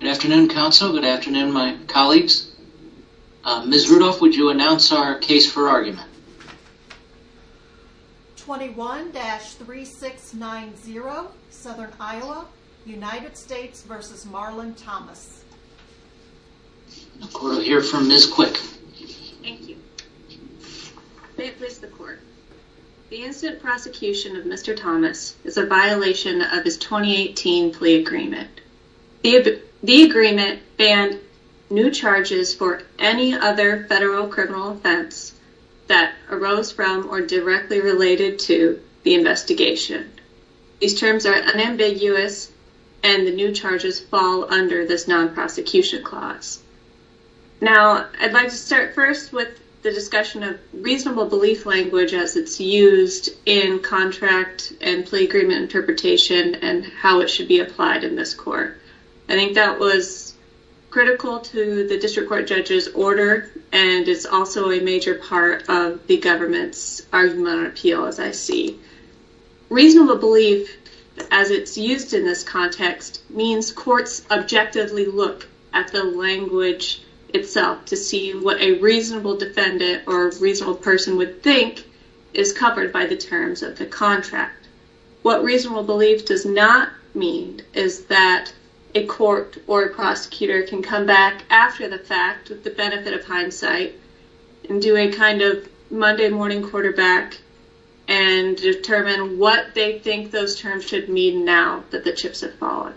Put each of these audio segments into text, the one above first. Good afternoon, counsel. Good afternoon, my colleagues. Ms. Rudolph, would you announce our case for argument? 21-3690, Southern Iowa, United States v. Marlin Thomas. We'll hear from Ms. Quick. May it please the court. The incident prosecution of Mr. The agreement banned new charges for any other federal criminal offense that arose from or directly related to the investigation. These terms are unambiguous, and the new charges fall under this non-prosecution clause. Now, I'd like to start first with the discussion of reasonable belief language as it's used in contract and plea agreement interpretation and how it should be applied in this court. I think that was critical to the district court judge's order, and it's also a major part of the government's argument on appeal, as I see. Reasonable belief, as it's used in this context, means courts objectively look at the language itself to see what a reasonable defendant or reasonable person would think is covered by the terms of the contract. What reasonable belief does not mean is that a court or a prosecutor can come back after the fact, with the benefit of hindsight, and do a kind of Monday morning quarterback and determine what they think those terms should mean now that the chips have fallen.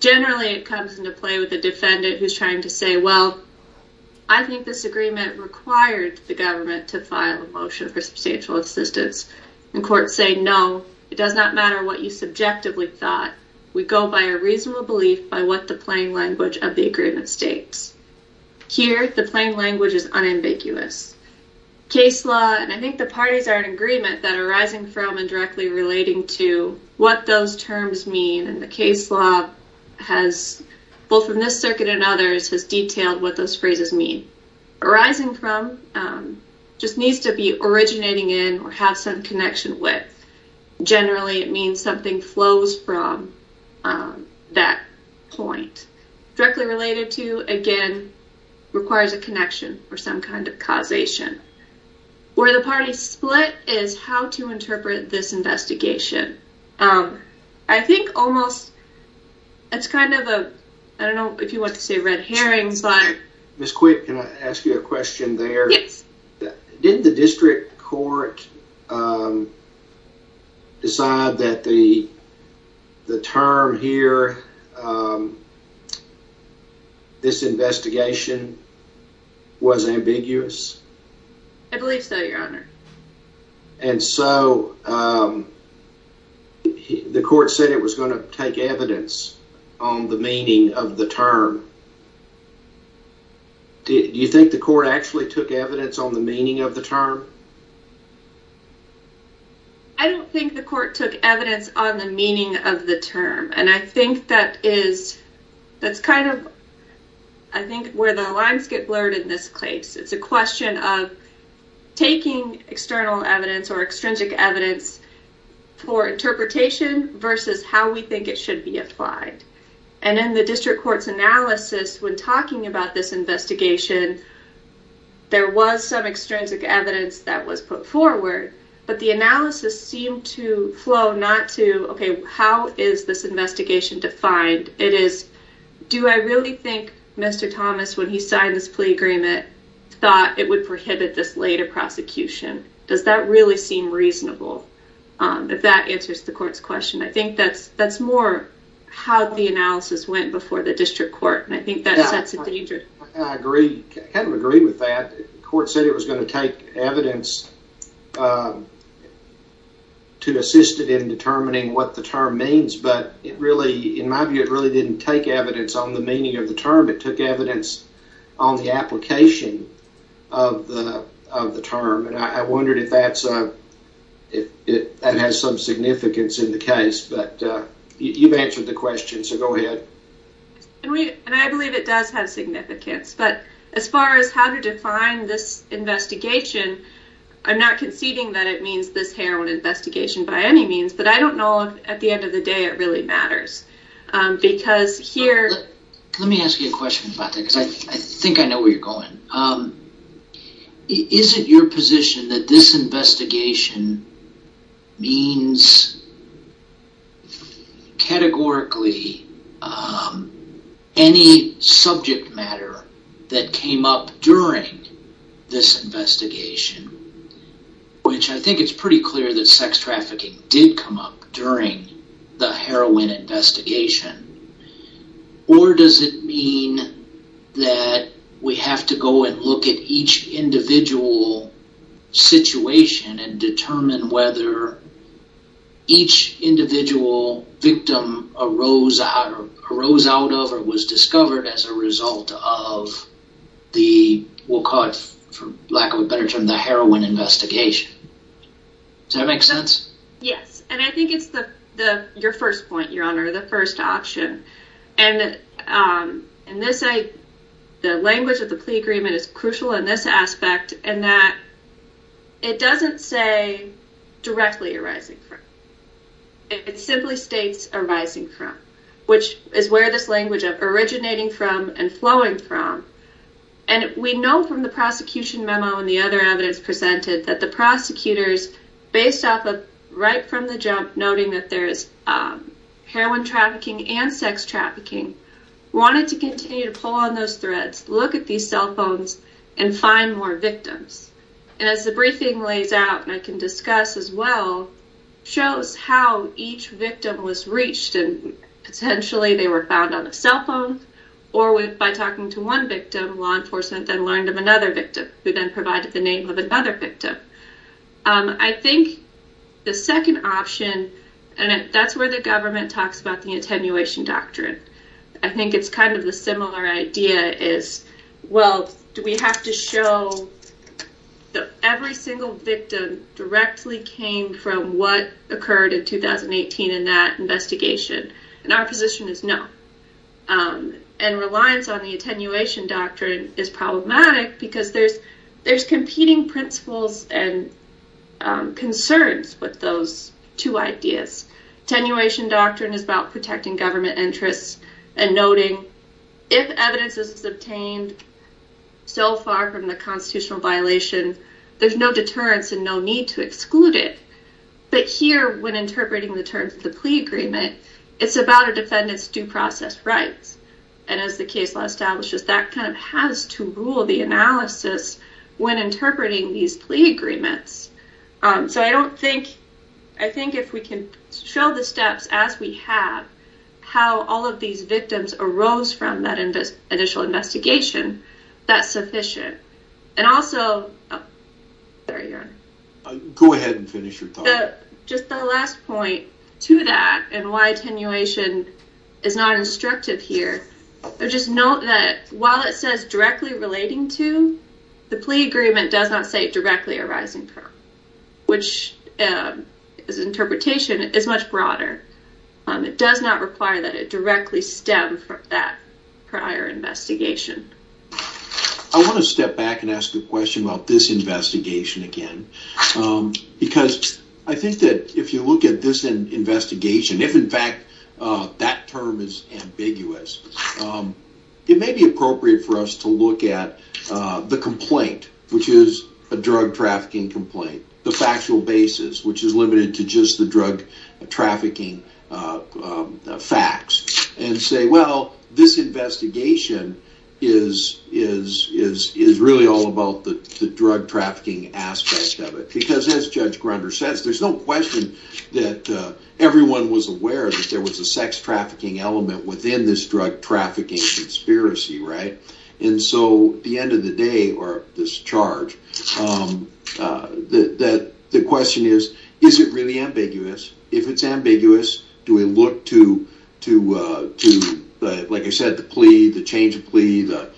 Generally, it comes into play with the defendant who's trying to say, well, I think this agreement required the government to file a motion for substantial assistance, and courts say, no, it does not matter what you subjectively thought. We go by a reasonable belief by what the plain language of the agreement states. Here, the plain language is unambiguous. Case law, and I think the parties are in agreement, that are rising from and directly relating to what those terms mean, and the case law has, both from this circuit and others, has detailed what those phrases mean. Rising from just needs to be originating in or have some connection with. Generally, it means something flows from that point. Directly related to, again, requires a connection or some kind of causation. Where the I don't know if you want to say red herrings, but. Ms. Quick, can I ask you a question there? Yes. Didn't the district court decide that the term here, this investigation, was ambiguous? I believe so, your honor. And so, um, the court said it was going to take evidence on the meaning of the term. Do you think the court actually took evidence on the meaning of the term? I don't think the court took evidence on the meaning of the term, and I think that is, that's kind of, I think, where the lines get blurred in this case. It's a question of external evidence or extrinsic evidence for interpretation versus how we think it should be applied. And in the district court's analysis, when talking about this investigation, there was some extrinsic evidence that was put forward, but the analysis seemed to flow not to, okay, how is this investigation defined? It is, do I really think Mr. Thomas, when he signed this agreement, thought it would prohibit this later prosecution? Does that really seem reasonable? If that answers the court's question, I think that's more how the analysis went before the district court, and I think that sets a danger. I agree, I kind of agree with that. The court said it was going to take evidence to assist it in determining what the term means, but it really, in my view, it really didn't take evidence on the meaning of the term. It took evidence on the application of the term, and I wondered if that has some significance in the case, but you've answered the question, so go ahead. And I believe it does have significance, but as far as how to define this investigation, I'm not conceding that it means this heroin investigation by any means, but I don't know if, at the end of the day, it really matters, because here... Let me ask you a question about that, because I think I know where you're going. Is it your position that this investigation means categorically any subject matter that came up during this investigation, which I think it's pretty clear that sex trafficking did come up during the heroin investigation, or does it mean that we have to go and look at each individual situation and determine whether each individual victim arose out of or was discovered as a result of the, we'll call it, for lack of a better term, the heroin investigation? Does that make sense? Yes, and I think it's your first point, Your Honor, the first option, and the language of the plea agreement is crucial in this aspect in that it doesn't say directly arising from, it simply states arising from, which is where this language of originating from and flowing from, and we know from the prosecution memo and the other evidence presented that the prosecutors, based off of right from the jump, noting that there's heroin trafficking and sex trafficking, wanted to continue to pull on those threads, look at these cell phones, and find more victims. And as the briefing lays out, and I can discuss as well, shows how each victim was reached, and potentially they were found on a cell phone, or by talking to one victim, law enforcement then who then provided the name of another victim. I think the second option, and that's where the government talks about the attenuation doctrine, I think it's kind of the similar idea is, well, do we have to show that every single victim directly came from what occurred in 2018 in that investigation? And our position is no. And reliance on the attenuation doctrine is problematic because there's competing principles and concerns with those two ideas. Attenuation doctrine is about protecting government interests and noting if evidence is obtained so far from the constitutional violation, there's no deterrence and no need to exclude it. But here, when interpreting the terms of the plea agreement, it's about a defendant's due process rights. And as the case law establishes, that kind of has to rule the analysis when interpreting these plea agreements. So I don't think, I think if we can show the steps as we have, how all of these victims arose from that initial investigation, that's sufficient. And also, there you are. Go ahead and finish your thought. Just the last point to that and why attenuation is not instructive here, just note that while it says directly relating to, the plea agreement does not say directly arising from, which is interpretation is much broader. It does not require that it directly stem from that prior investigation. I want to step back and ask a question about this investigation again, because I think that if you look at this investigation, if in fact that term is ambiguous, it may be appropriate for us to look at the complaint, which is a drug trafficking complaint, the factual basis, which is limited to just the drug trafficking facts and say, well, this investigation is really all about the drug trafficking aspect of it. Because as Judge Grunder says, there's no question that everyone was aware that there was a sex trafficking element within this drug trafficking conspiracy, right? And so at the end of the day, or this charge, the question is, is it really ambiguous? If it's ambiguous, do we look to, like I said, the plea, the change of plea, the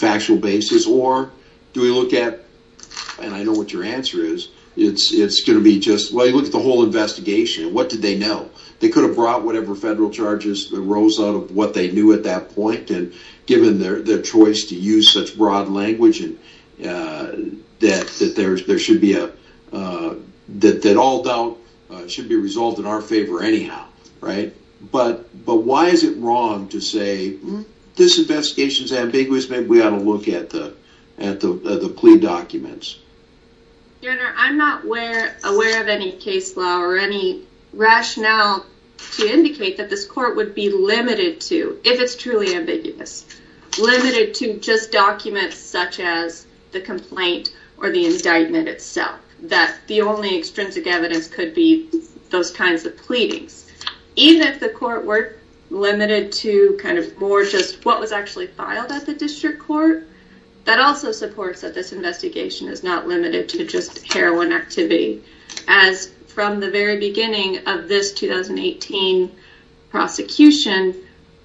factual basis, or do we look at, and I know what your answer is, it's going to be just, well, you look at the whole investigation, what did they know? They could have brought whatever federal charges arose out of what they knew at that point and given their choice to use such broad language that all doubt should be resolved in our favor anyhow, right? But why is it wrong to say, this investigation is ambiguous, maybe we ought to look at the plea documents? Your Honor, I'm not aware of any case law or any rationale to indicate that this court would be limited to, if it's truly ambiguous, limited to just documents such as the complaint or the indictment itself, that the only extrinsic evidence could be those kinds of pleadings. Even if the court were limited to kind of more just what was actually filed at the district court, that also supports that this investigation is not limited to just heroin activity. As from the very beginning of this 2018 prosecution,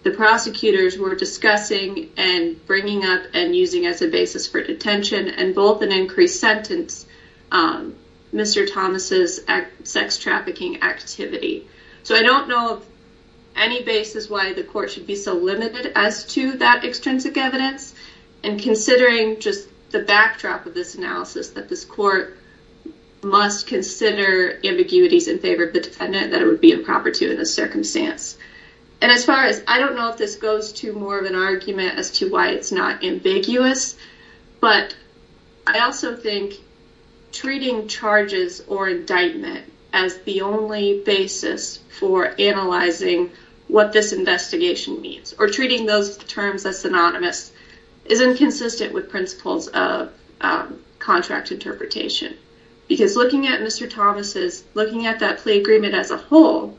the prosecutors were discussing and bringing up and using as a basis for detention and both an increased sentence, Mr. Thomas's sex trafficking activity. So I don't know of any basis why the court should be so limited as to that extrinsic evidence. And considering just the backdrop of this analysis that this court must consider ambiguities in favor of the defendant that it would be improper to in this circumstance. And as far as, I don't know if this goes to more of an argument as to why it's not ambiguous, but I also think treating charges or indictment as the only basis for analyzing what this investigation means or treating those terms as synonymous is inconsistent with principles of contract interpretation. Because looking at Mr. Thomas's, looking at that plea agreement as a whole,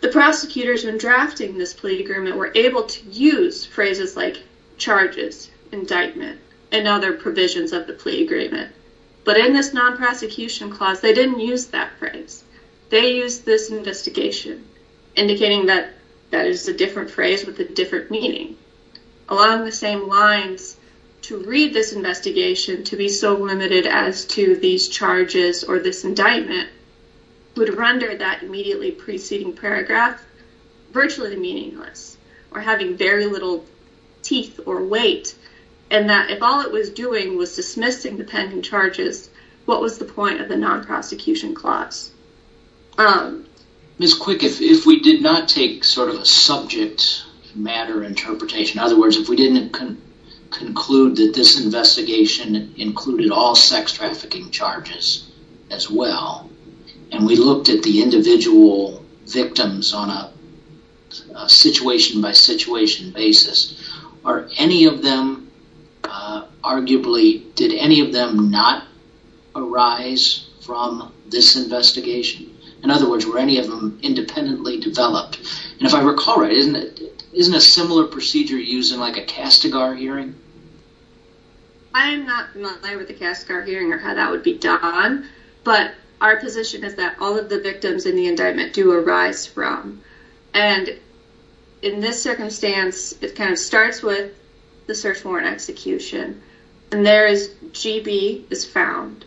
the prosecutors when drafting this plea agreement were able to use phrases like charges, indictment, and other provisions of the plea agreement. But in this non-prosecution clause, they didn't use that phrase. They used this investigation, indicating that that is a different phrase with a different meaning. Along the same lines, to read this investigation to be so limited as to these charges or this indictment would render that immediately preceding paragraph virtually meaningless or having very little teeth or weight. And that if all it was doing was dismissing the pending charges, what was the point of the non-prosecution clause? Ms. Quick, if we did not take sort of a subject matter interpretation, in other words, if we didn't conclude that this investigation included all sex trafficking charges as well, and we looked at the individual victims on a situation-by-situation basis, are any of them, arguably, did any of them not arise from this investigation? In other words, were any of them independently developed? And if I recall right, isn't a similar procedure used in like a Castigar hearing? I am not familiar with the Castigar hearing or how that would be done, but our position is that all of the victims in the indictment do arise from. And in this case, it starts with the search warrant execution, and there is, GB is found,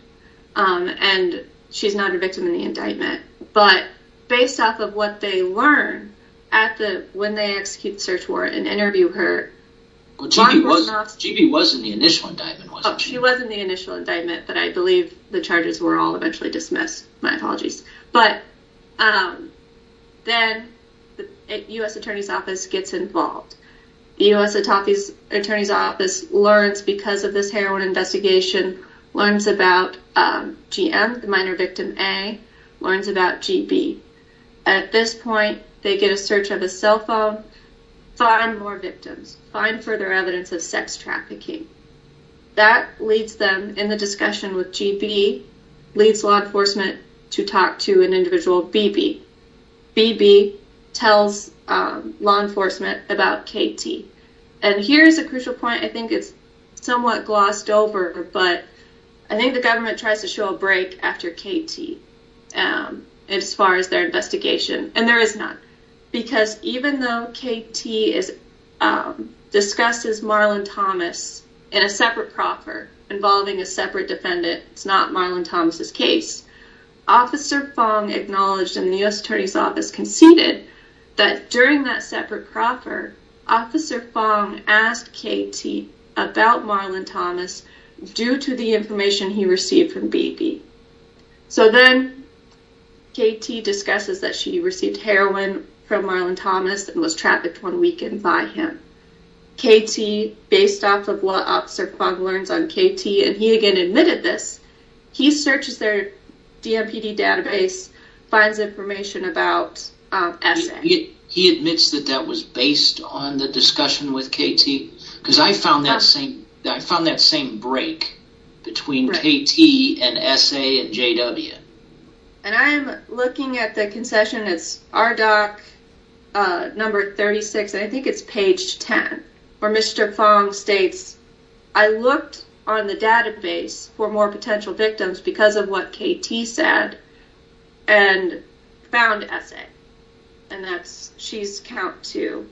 and she's not a victim in the indictment. But based off of what they learn at the, when they execute the search warrant and interview her, GB was in the initial indictment, wasn't she? She was in the initial indictment, but I believe the charges were all eventually dismissed. My apologies. But then the U.S. Attorney's Office gets involved. The U.S. Attorney's Office learns, because of this heroin investigation, learns about GM, the minor victim A, learns about GB. At this point, they get a search of a cell phone, find more victims, find further evidence of sex trafficking. That leads them, in the discussion with GB, leads law enforcement to talk to an individual, BB. BB tells law enforcement about KT. And here's a crucial point, I think it's somewhat glossed over, but I think the government tries to show a break after KT, as far as their investigation, and there is none. Because even though KT discusses Marlon Thomas in a separate proffer, involving a separate defendant, it's not Marlon Thomas' case, Officer Fong acknowledged, and the U.S. Attorney's Office conceded, that during that separate proffer, Officer Fong asked KT about Marlon Thomas due to the information he received from BB. So then, KT discusses that she received heroin from Marlon Thomas and was trafficked one weekend by him. KT, based off of what Officer Fong learns on KT, and he again admitted this, he searches their DMPD database, finds information about S.A. He admits that that was based on the S.A. and JW. And I'm looking at the concession, it's RDoC number 36, I think it's page 10, where Mr. Fong states, I looked on the database for more potential victims because of what KT said and found S.A. And that's, she's count two.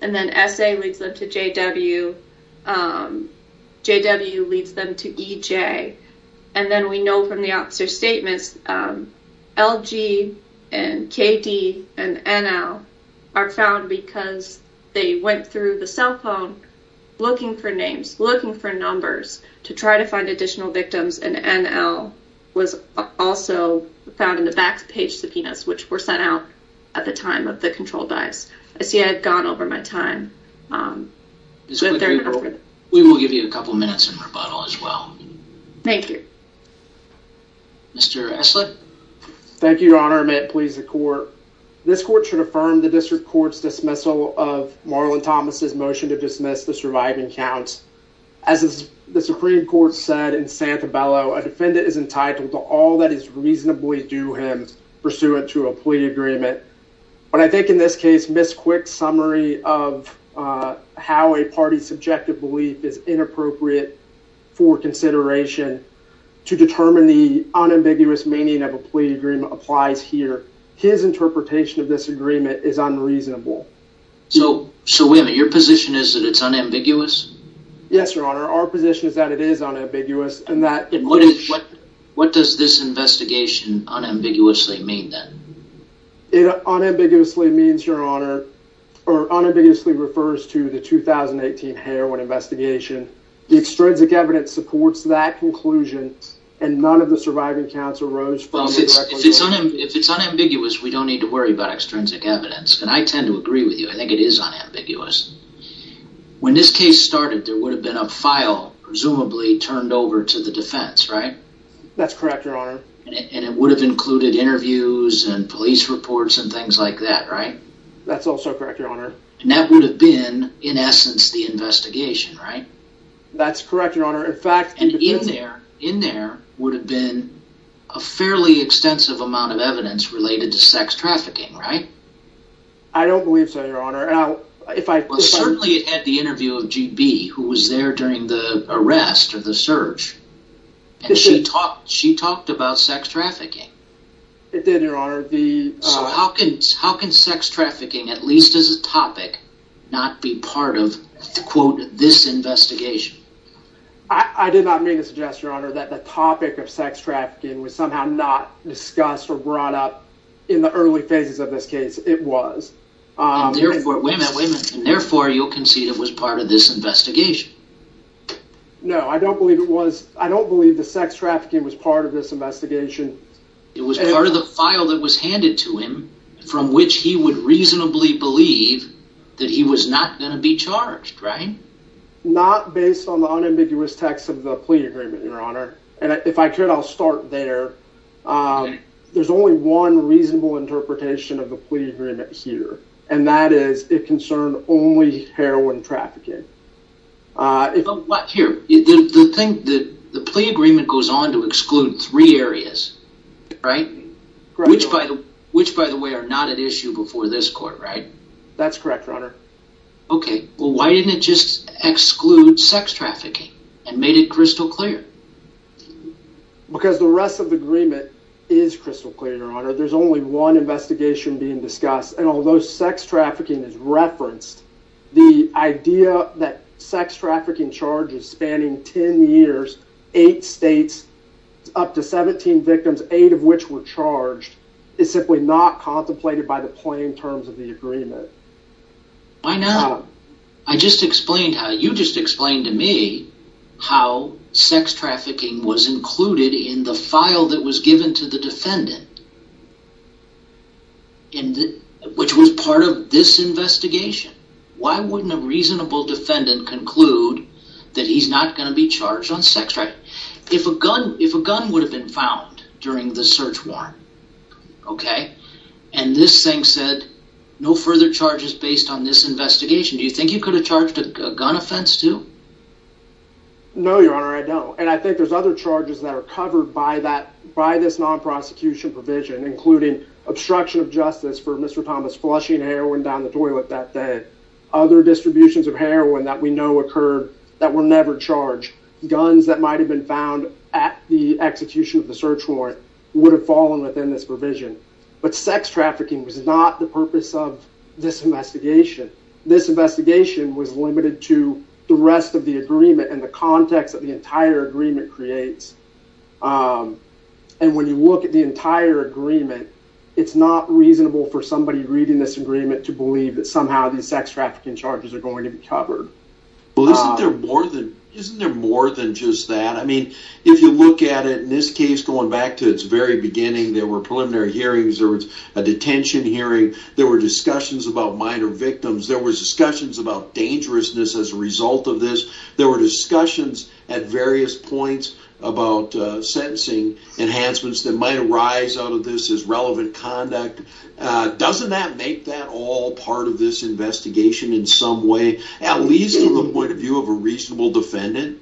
And then S.A. leads them to JW, JW leads them to EJ. And then we know from the officer's statements, LG and KD and NL are found because they went through the cell phone looking for names, looking for numbers to try to find additional victims. And NL was also found in the back page subpoenas, which were sent out at the time of the control dives. I see I've gone over my time. Ms. Quick-Grebel, we will give you a couple minutes in rebuttal as well. Thank you. Mr. Eslick. Thank you, Your Honor. May it please the court. This court should affirm the district court's dismissal of Marlon Thomas's motion to dismiss the surviving counts. As the Supreme Court said in Santabello, a defendant is entitled to all that is reasonably due him pursuant to a plea agreement. But I think in this case, Ms. Quick's summary of how a party's subjective belief is inappropriate for consideration to determine the unambiguous meaning of a plea agreement applies here. His interpretation of this agreement is unreasonable. So, so wait a minute, your position is that it's unambiguous? Yes, Your Honor. Our position is that it is unambiguous and that it unambiguously mean that? It unambiguously means, Your Honor, or unambiguously refers to the 2018 heroin investigation. The extrinsic evidence supports that conclusion and none of the surviving counts arose from it. If it's unambiguous, we don't need to worry about extrinsic evidence. And I tend to agree with you. I think it is unambiguous. When this case started, there would have been a file presumably turned over to the defense, right? That's correct, Your Honor. And it would have included interviews and police reports and things like that, right? That's also correct, Your Honor. And that would have been, in essence, the investigation, right? That's correct, Your Honor. In fact... And in there, in there would have been a fairly extensive amount of evidence related to sex trafficking, right? I don't believe so, Your Honor. Certainly it had the interview of GB, who was there during the arrest or the search. And she talked, she talked about sex trafficking. It did, Your Honor. So how can, how can sex trafficking, at least as a topic, not be part of, quote, this investigation? I did not mean to suggest, Your Honor, that the topic of sex trafficking was somehow not discussed or brought up in the early phases of this case. It was. And therefore, wait a minute, wait a minute. And I don't believe the sex trafficking was part of this investigation. It was part of the file that was handed to him from which he would reasonably believe that he was not going to be charged, right? Not based on the unambiguous text of the plea agreement, Your Honor. And if I could, I'll start there. There's only one reasonable interpretation of the plea agreement here, and that is it concerned only heroin trafficking. Uh, here, the thing that the plea agreement goes on to exclude three areas, right? Which, by the way, are not at issue before this court, right? That's correct, Your Honor. Okay. Well, why didn't it just exclude sex trafficking and made it crystal clear? Because the rest of the agreement is crystal clear, Your Honor. There's only one investigation being discussed. And although sex trafficking is referenced, the idea that sex trafficking charges spanning 10 years, eight states, up to 17 victims, eight of which were charged, is simply not contemplated by the plain terms of the agreement. Why not? I just explained how, you just explained to me how sex trafficking was included in the this investigation. Why wouldn't a reasonable defendant conclude that he's not going to be charged on sex trafficking? If a gun, if a gun would have been found during the search warrant, okay? And this thing said no further charges based on this investigation, do you think you could have charged a gun offense too? No, Your Honor, I don't. And I think there's other charges that are covered by that, by this non-prosecution provision, including obstruction of justice for Mr. Thomas flushing heroin down the toilet that day. Other distributions of heroin that we know occurred that were never charged. Guns that might have been found at the execution of the search warrant would have fallen within this provision. But sex trafficking was not the purpose of this investigation. This investigation was limited to the rest of the agreement and the context that the entire agreement creates. And when you look at the entire agreement, it's not reasonable for somebody reading this agreement to believe that somehow these sex trafficking charges are going to be covered. Well, isn't there more than, isn't there more than just that? I mean, if you look at it, in this case, going back to its very beginning, there were preliminary hearings, there was a detention hearing, there were discussions about minor victims, there were discussions about dangerousness as a result of this, there were discussions at various points about sentencing enhancements that might arise out of this as relevant conduct. Doesn't that make that all part of this investigation in some way, at least from the point of view of a reasonable defendant?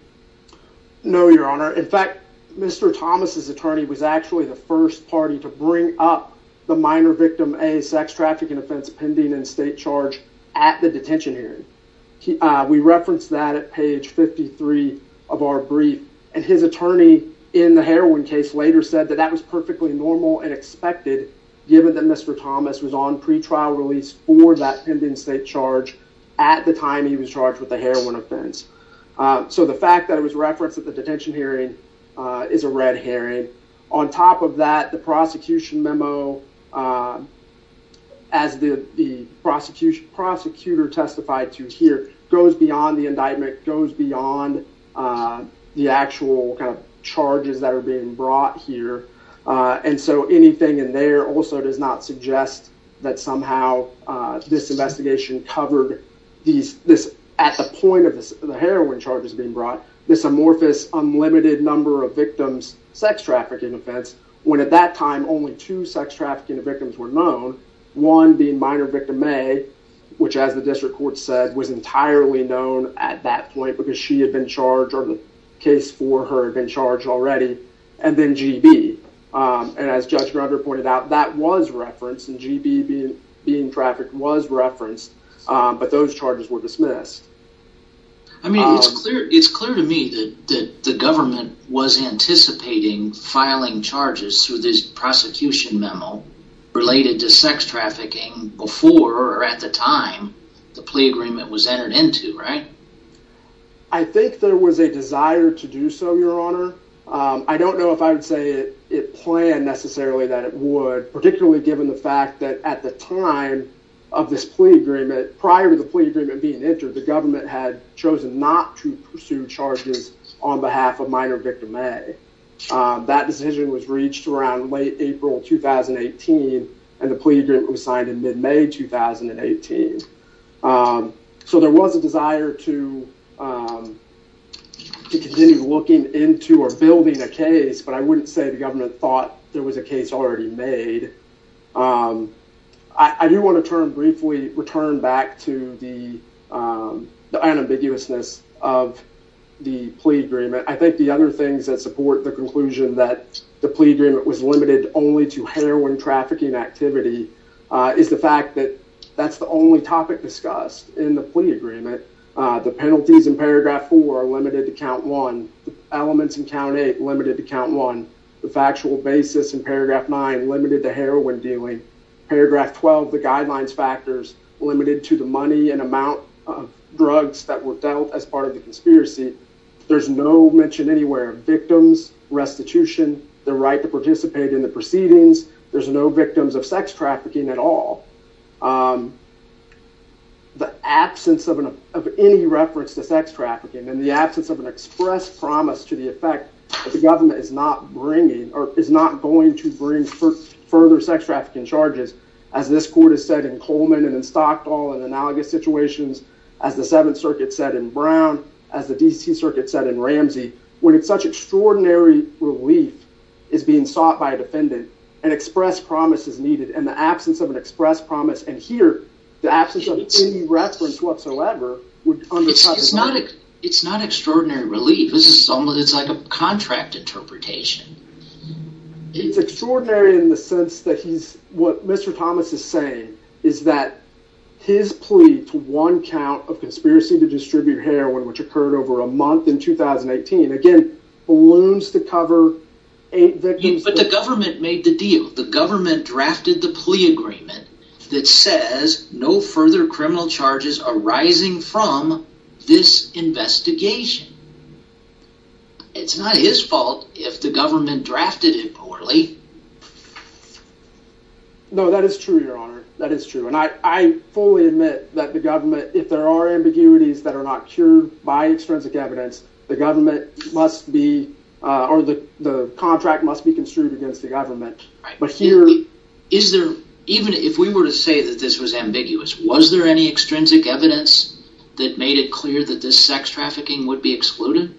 No, your honor. In fact, Mr. Thomas's attorney was actually the first party to bring up the minor victim A sex trafficking offense pending in state charge at the detention hearing. We referenced that at page 53 of our brief, and his attorney in the heroin case later said that that was perfectly normal and expected, given that Mr. Thomas was on pretrial release for that pending state charge at the time he was charged with the heroin offense. So the fact that it was referenced at the detention hearing is a red herring. On top of that, the prosecution memo, as the prosecutor testified to here, goes beyond the indictment, goes beyond the actual kind of charges that are being brought here. And so anything in there also does not suggest that somehow this investigation covered at the point of the heroin charges being brought, this amorphous unlimited number of victims sex trafficking offense, when at that time only two sex trafficking victims were known. One being minor victim A, which as the district court said was entirely known at that point because she had been charged, or the case for her had been charged already, and then GB. And as Judge Greger pointed out, that was referenced, and GB being trafficked was referenced, but those charges were dismissed. I mean, it's clear to me that the government was anticipating filing charges through this prosecution memo related to sex trafficking before or at the time the plea agreement was entered into, right? I think there was a desire to do so, your honor. I don't know if I would say it planned necessarily that it would, particularly given the fact that at the time of this plea agreement, prior to the plea agreement being entered, the government had chosen not to pursue charges on behalf of minor victim A. That decision was reached around late April 2018, and the plea agreement was signed in mid-May 2018. So there was a desire to continue looking into or building a case, but I wouldn't say the government thought there was a case already made. I do want to turn briefly, return back to the unambiguousness of the plea agreement. I think the other things that support the conclusion that the plea agreement was limited only to heroin trafficking activity is the fact that that's the only topic discussed in the plea agreement. The penalties in paragraph four are limited to count one, the elements in limited to count one. The factual basis in paragraph nine limited to heroin dealing. Paragraph 12, the guidelines factors limited to the money and amount of drugs that were dealt as part of the conspiracy. There's no mention anywhere of victims, restitution, the right to participate in the proceedings. There's no victims of sex trafficking at all. The absence of any reference to sex trafficking and the absence of an express promise to the effect that the government is not bringing or is not going to bring further sex trafficking charges, as this court has said in Coleman and in Stockdall and analogous situations, as the Seventh Circuit said in Brown, as the D.C. Circuit said in Ramsey, when it's such extraordinary relief is being sought by a defendant, an express promise is needed and the absence of an express promise and here the absence of any reference whatsoever. It's not extraordinary relief. It's like a contract interpretation. It's extraordinary in the sense that what Mr. Thomas is saying is that his plea to one count of conspiracy to distribute heroin, which occurred over a month in 2018, again balloons to cover eight victims. But the government made the deal. The government drafted the plea agreement that says no further criminal charges arising from this investigation. It's not his fault if the government drafted it poorly. No, that is true, your honor. That is true and I fully admit that the government, if there are ambiguities that are not cured by extrinsic evidence, the government must be or the contract must be construed against the government. Right, but here is there even if we were to say that this was ambiguous, was there any extrinsic evidence that made it clear that this sex trafficking would be excluded?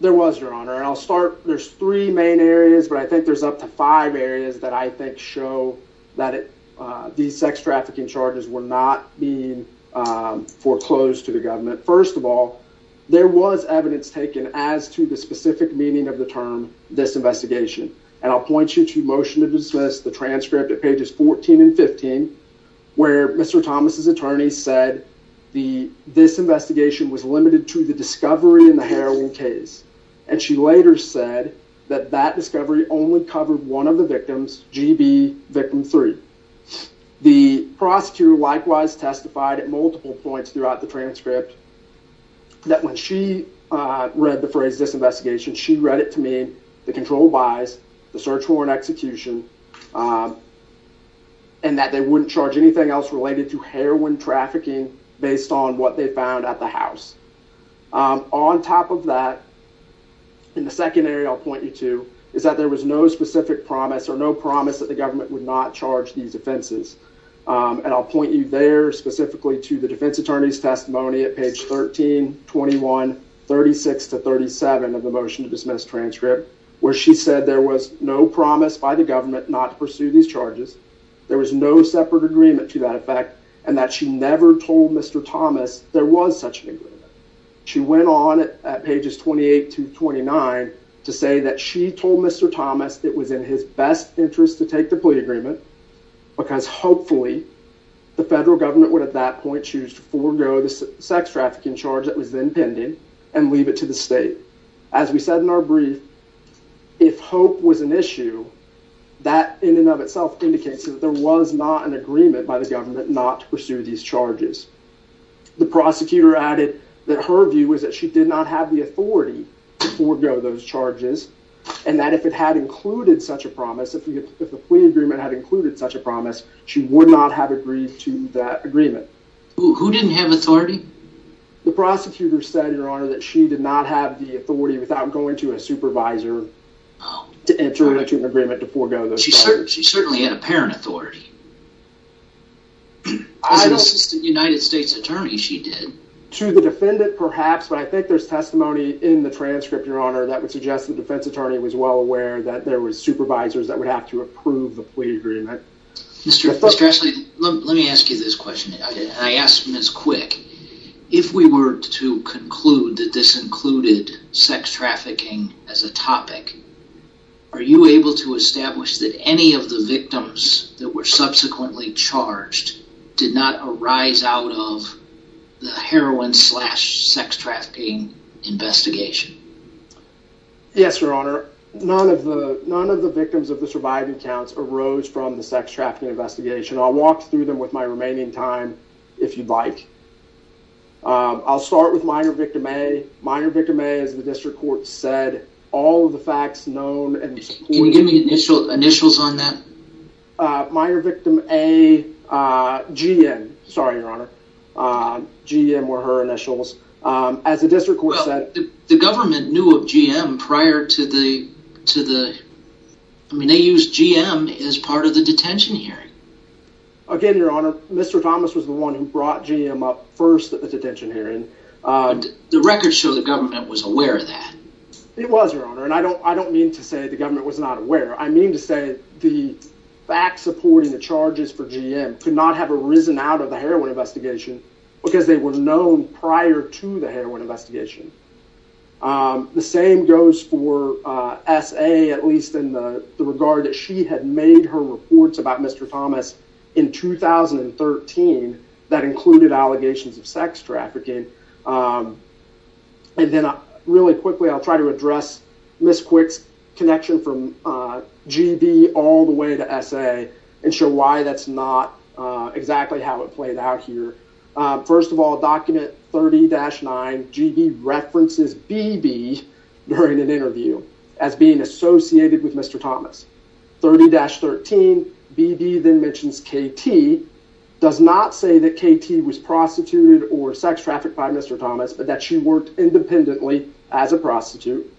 There was, your honor, and I'll start. There's three main areas, but I think there's up to five areas that I think show that these sex trafficking charges were not being foreclosed to the government. First of all, there was evidence taken as to the specific meaning of the term disinvestigation, and I'll point you to Motion to Dismiss, the transcript at pages 14 and 15, where Mr. Thomas's attorney said the disinvestigation was limited to the discovery in the heroin case, and she later said that that discovery only covered one of the victims, GB victim three. The prosecutor likewise testified at multiple points throughout the transcript that when she read the phrase disinvestigation, she read it to mean the control buys, the search warrant execution, and that they wouldn't charge anything else related to heroin trafficking based on what they found at the house. On top of that, in the second area I'll point you to is that there was no specific promise or no promise that the government would not charge these offenses, and I'll point you there specifically to the defense attorney's testimony at page 13, 21, 36 to 37 of the Motion to Dismiss transcript, where she said there was no promise by the government not to pursue these charges, there was no separate agreement to that effect, and that she never told Mr. Thomas there was such an agreement. She went on at pages 28 to 29 to say that she told Mr. Thomas it was in his best interest to take the plea agreement, because hopefully the federal government would at that point choose to forego the sex trafficking charge that was then pending and leave it to the state. As we said in our brief, if hope was an issue, that in and of itself indicates that there was not an agreement by the government not to pursue these charges. The prosecutor added that her view was that she did not have the authority to forego those charges, and that if it had included such a promise, she would not have agreed to that agreement. Who didn't have authority? The prosecutor said, your honor, that she did not have the authority without going to a supervisor to enter into an agreement to forego those charges. She certainly had apparent authority. As an assistant United States attorney, she did. To the defendant, perhaps, but I think there's testimony in the transcript, your honor, that would suggest the defense attorney was well aware that there were supervisors that would have to approve the plea agreement. Mr. Strashley, let me ask you this question. I asked Ms. Quick, if we were to conclude that this included sex trafficking as a topic, are you able to establish that any of the victims that were subsequently charged did not arise out of the heroin slash sex trafficking investigation? Yes, your honor. None of the victims of the surviving counts arose from the sex trafficking investigation. I'll walk through them with my remaining time, if you'd like. I'll start with minor victim A. Minor victim A, as the district court said, all of the facts known... Can you give me initials on that? Minor victim A, GM. Sorry, your honor. GM were her initials. As the district court said... The government knew of GM prior to the... I mean, they used GM as part of the detention hearing. Again, your honor, Mr. Thomas was the one who brought GM up first at the detention hearing. The records show the government was aware of that. It was, your honor. I don't mean to say the government was not aware. I mean to say the facts supporting the charges for GM could not have arisen out of the heroin investigation because they were known prior to the heroin investigation. The same goes for S.A., at least in the regard that she had made her reports about Mr. Thomas in 2013 that included allegations of sex trafficking. And then really quickly, I'll try to address Ms. Quick's connection from G.B. all the way to S.A. and show why that's not exactly how it played out here. First of all, document 30-9, G.B. references B.B. during an interview as being associated with Mr. Thomas. 30-13, B.B. then mentions K.T., does not say that K.T. was prostituted or sex trafficked by Mr. Thomas, but that she worked independently as a prostitute.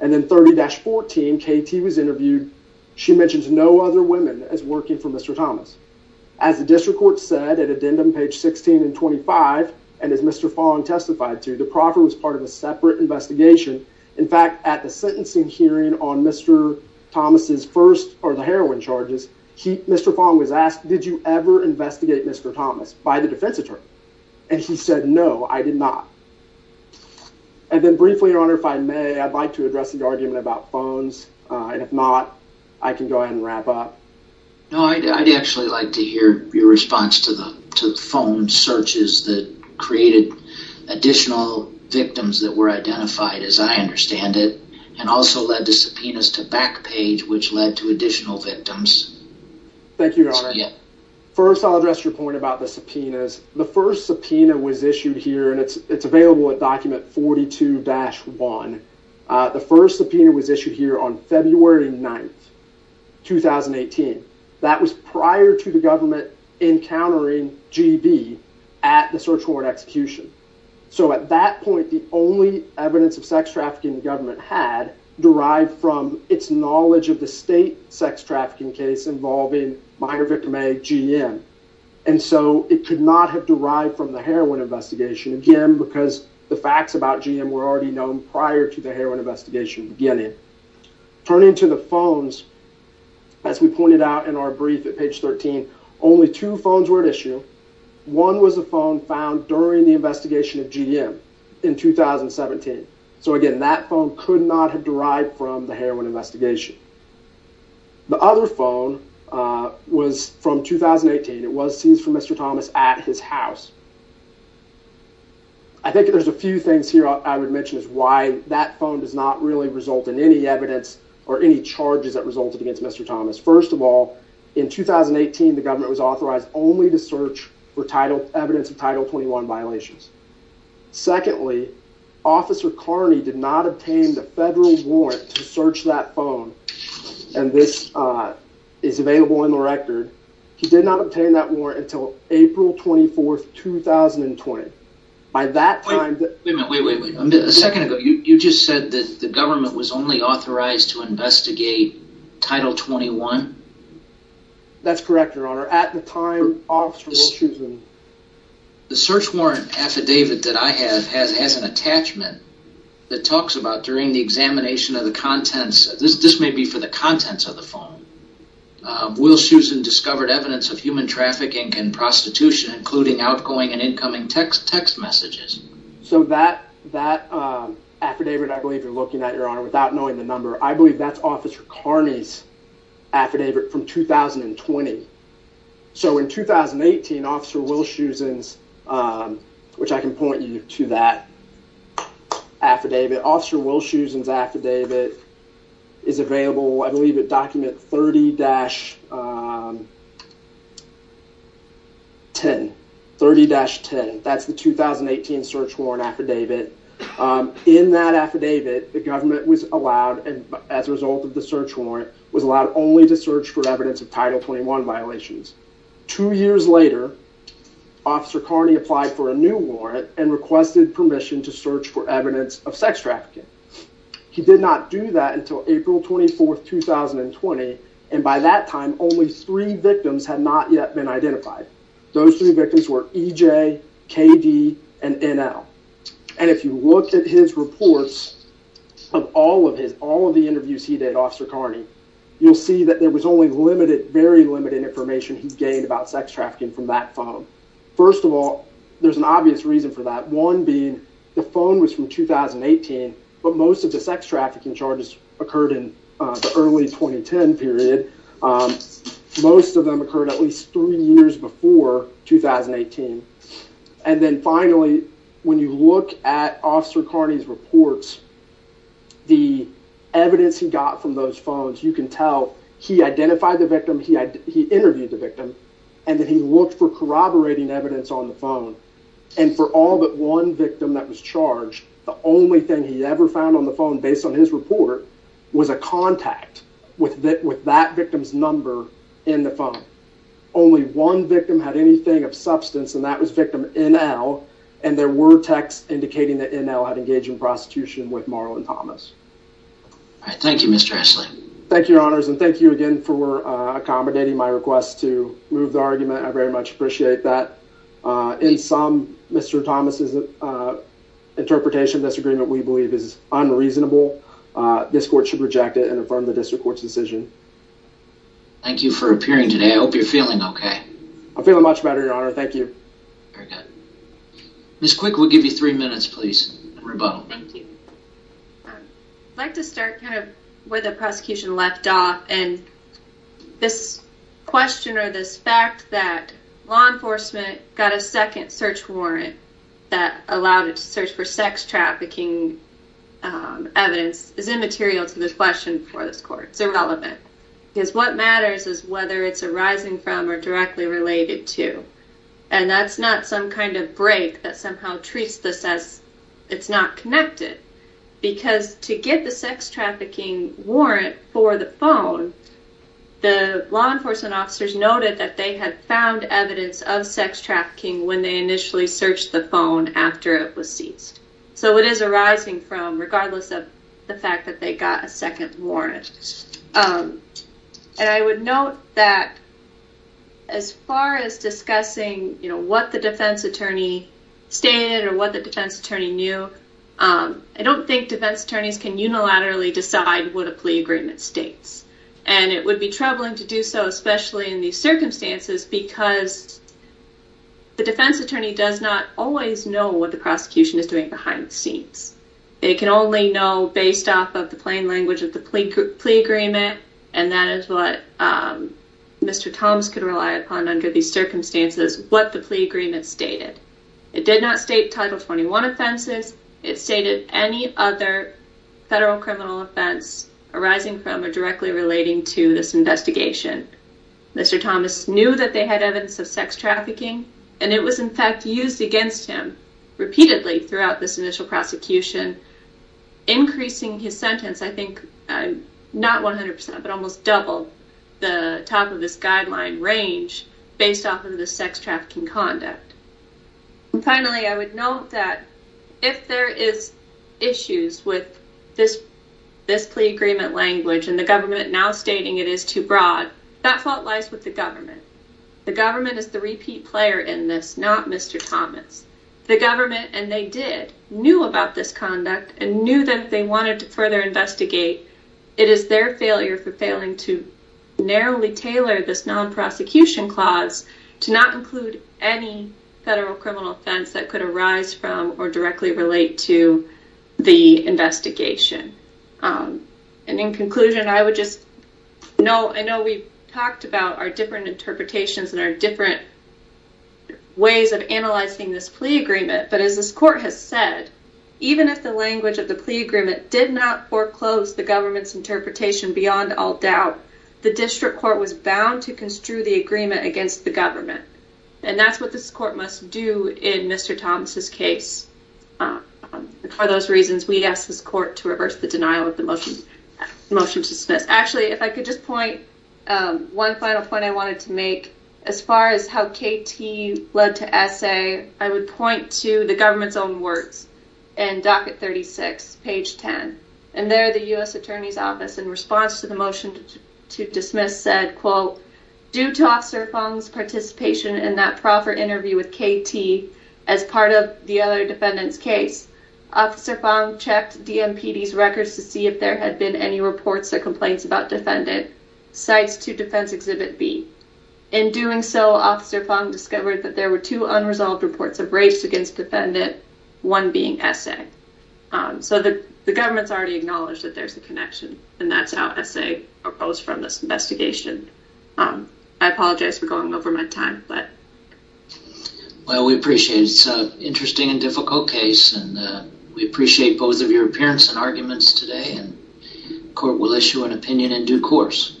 And then 30-14, K.T. was interviewed. She mentions no other women as working for Mr. Thomas. As the district court said at addendum page 16 and 25, and as Mr. Fong testified to, the proffer was part of a separate investigation. In fact, at the sentencing hearing on Mr. Thomas's first or the heroin charges, Mr. Fong was asked, did you ever investigate Mr. Thomas by the defense attorney? And he said, no, I did not. And then briefly, your honor, if I may, I'd like address the argument about phones, and if not, I can go ahead and wrap up. No, I'd actually like to hear your response to the phone searches that created additional victims that were identified, as I understand it, and also led the subpoenas to back page, which led to additional victims. Thank you, your honor. First, I'll address your point about the subpoenas. The first subpoena was issued here, and it's available at document 42-1. The first subpoena was issued here on February 9, 2018. That was prior to the government encountering GB at the search warrant execution. So at that point, the only evidence of sex trafficking the government had derived from its knowledge of the state sex trafficking case involving minor victim A, GM. And so it could not have derived from the heroin investigation, again, because the facts about GM were already known prior to the heroin investigation beginning. Turning to the phones, as we pointed out in our brief at page 13, only two phones were at issue. One was a phone found during the investigation of GM in 2017. So again, that phone could not have derived from the heroin investigation. The other phone was from 2018. It was seized from Mr. Thomas at his house. I think there's a few things here I would mention is why that phone does not really result in any evidence or any charges that resulted against Mr. Thomas. First of all, in 2018, the government was authorized only to search for evidence of Title 21 violations. Secondly, Officer Carney did not obtain the federal warrant to search that phone. And this is available in the record. He did not obtain that warrant until April 24, 2020. By that time... Wait a second. You just said that the government was only authorized to investigate Title 21? That's correct, Your Honor. At the time, the search warrant affidavit that I have has an attachment that talks about during the examination of the contents. This may be for the contents of the phone. Will Shusin discovered evidence of human trafficking and prostitution, including outgoing and incoming text messages. So that affidavit, I believe you're looking at, Your Honor, without knowing the number, I believe that's Officer Carney's affidavit from 2020. So in 2018, Officer Will Shusin's, which I can point you to that affidavit, Officer Will Shusin's affidavit is available, I believe, at document 30-10. 30-10. That's the 2018 search warrant affidavit. In that affidavit, the government was allowed, as a result of the search warrant, was allowed to investigate. Two years later, Officer Carney applied for a new warrant and requested permission to search for evidence of sex trafficking. He did not do that until April 24, 2020. And by that time, only three victims had not yet been identified. Those three victims were EJ, KD, and NL. And if you look at his reports of all of his, all of the interviews he did, Officer Carney, you'll see that there was only very limited information he gained about sex trafficking from that phone. First of all, there's an obvious reason for that. One being the phone was from 2018, but most of the sex trafficking charges occurred in the early 2010 period. Most of them occurred at least three years before 2018. And then finally, when you look at Officer Carney's reports, the evidence he got from those phones, you can tell he identified the victim, he interviewed the victim, and then he looked for corroborating evidence on the phone. And for all but one victim that was charged, the only thing he ever found on the phone, based on his report, was a contact with that victim's number in the phone. Only one victim had anything of substance, and that was victim NL. And there were texts indicating that NL had engaged in prostitution with Marlon Thomas. All right. Thank you, Mr. Essling. Thank you, Your Honors, and thank you again for accommodating my request to move the argument. I very much appreciate that. In sum, Mr. Thomas's interpretation of this agreement, we believe, is unreasonable. This court should reject it and affirm the district court's decision. Thank you for appearing today. I hope you're feeling okay. I'm feeling much better, Your Honor. Thank you. Very good. Ms. Quick, we'll give you three minutes, please. Rebuttal. Thank you. I'd like to start kind of where the prosecution left off, and this question or this fact that law enforcement got a second search warrant that allowed it to search for sex trafficking evidence is immaterial to this question for this court. It's irrelevant. Because what matters is whether it's arising from or directly related to, and that's not some kind of break that somehow treats this as it's not connected. Because to get the sex trafficking warrant for the phone, the law enforcement officers noted that they had found evidence of sex trafficking when they initially searched the phone after it was seized. So it is arising from, regardless of the fact that they got a second warrant. And I would note that as far as discussing, you know, what the defense attorney stated or what the defense attorney knew, I don't think defense attorneys can unilaterally decide what a plea agreement states. And it would be troubling to do so, especially in these circumstances, because the defense attorney does not always know what the prosecution is doing behind the scenes. They can only know, based off of the plain language of the plea agreement, and that is what Mr. Thomas could rely upon under these circumstances, what the plea agreement stated. It did not state Title 21 offenses. It stated any other federal criminal offense arising from or directly relating to this investigation. Mr. Thomas knew that they had of sex trafficking, and it was in fact used against him repeatedly throughout this initial prosecution, increasing his sentence, I think, not 100%, but almost double the top of this guideline range based off of the sex trafficking conduct. Finally, I would note that if there is issues with this plea agreement language and the government now stating it is too broad, that fault lies with the government. The government is the repeat player in this, not Mr. Thomas. The government, and they did, knew about this conduct and knew that if they wanted to further investigate, it is their failure for failing to narrowly tailor this non-prosecution clause to not include any federal criminal offense that could arise from or directly relate to the investigation. In conclusion, I would just note, I know we talked about our different interpretations and our different ways of analyzing this plea agreement, but as this court has said, even if the language of the plea agreement did not foreclose the government's interpretation beyond all doubt, the district court was bound to construe the agreement against the government, and that's what this court must do in Mr. Thomas' case. For those reasons, we ask this court to reverse the denial of the motion to dismiss. Actually, if I could just point, one final point I wanted to make, as far as how KT led to SA, I would point to the government's own words in Docket 36, page 10, and there the U.S. Attorney's Office, in response to the motion to dismiss, said, quote, due to Officer Fong's participation in that proper interview with KT as part of the other defendant's case, Officer Fong checked DMPD's records to see if there had been any reports or complaints about defendant. Cites to Defense Exhibit B. In doing so, Officer Fong discovered that there were two unresolved reports of race against defendant, one being SA. So the government's already acknowledged that there's a connection, and that's how SA opposed this investigation. I apologize for going over my time. Well, we appreciate it. It's an interesting and difficult case, and we appreciate both of your appearance and arguments today, and the court will issue an opinion in due course.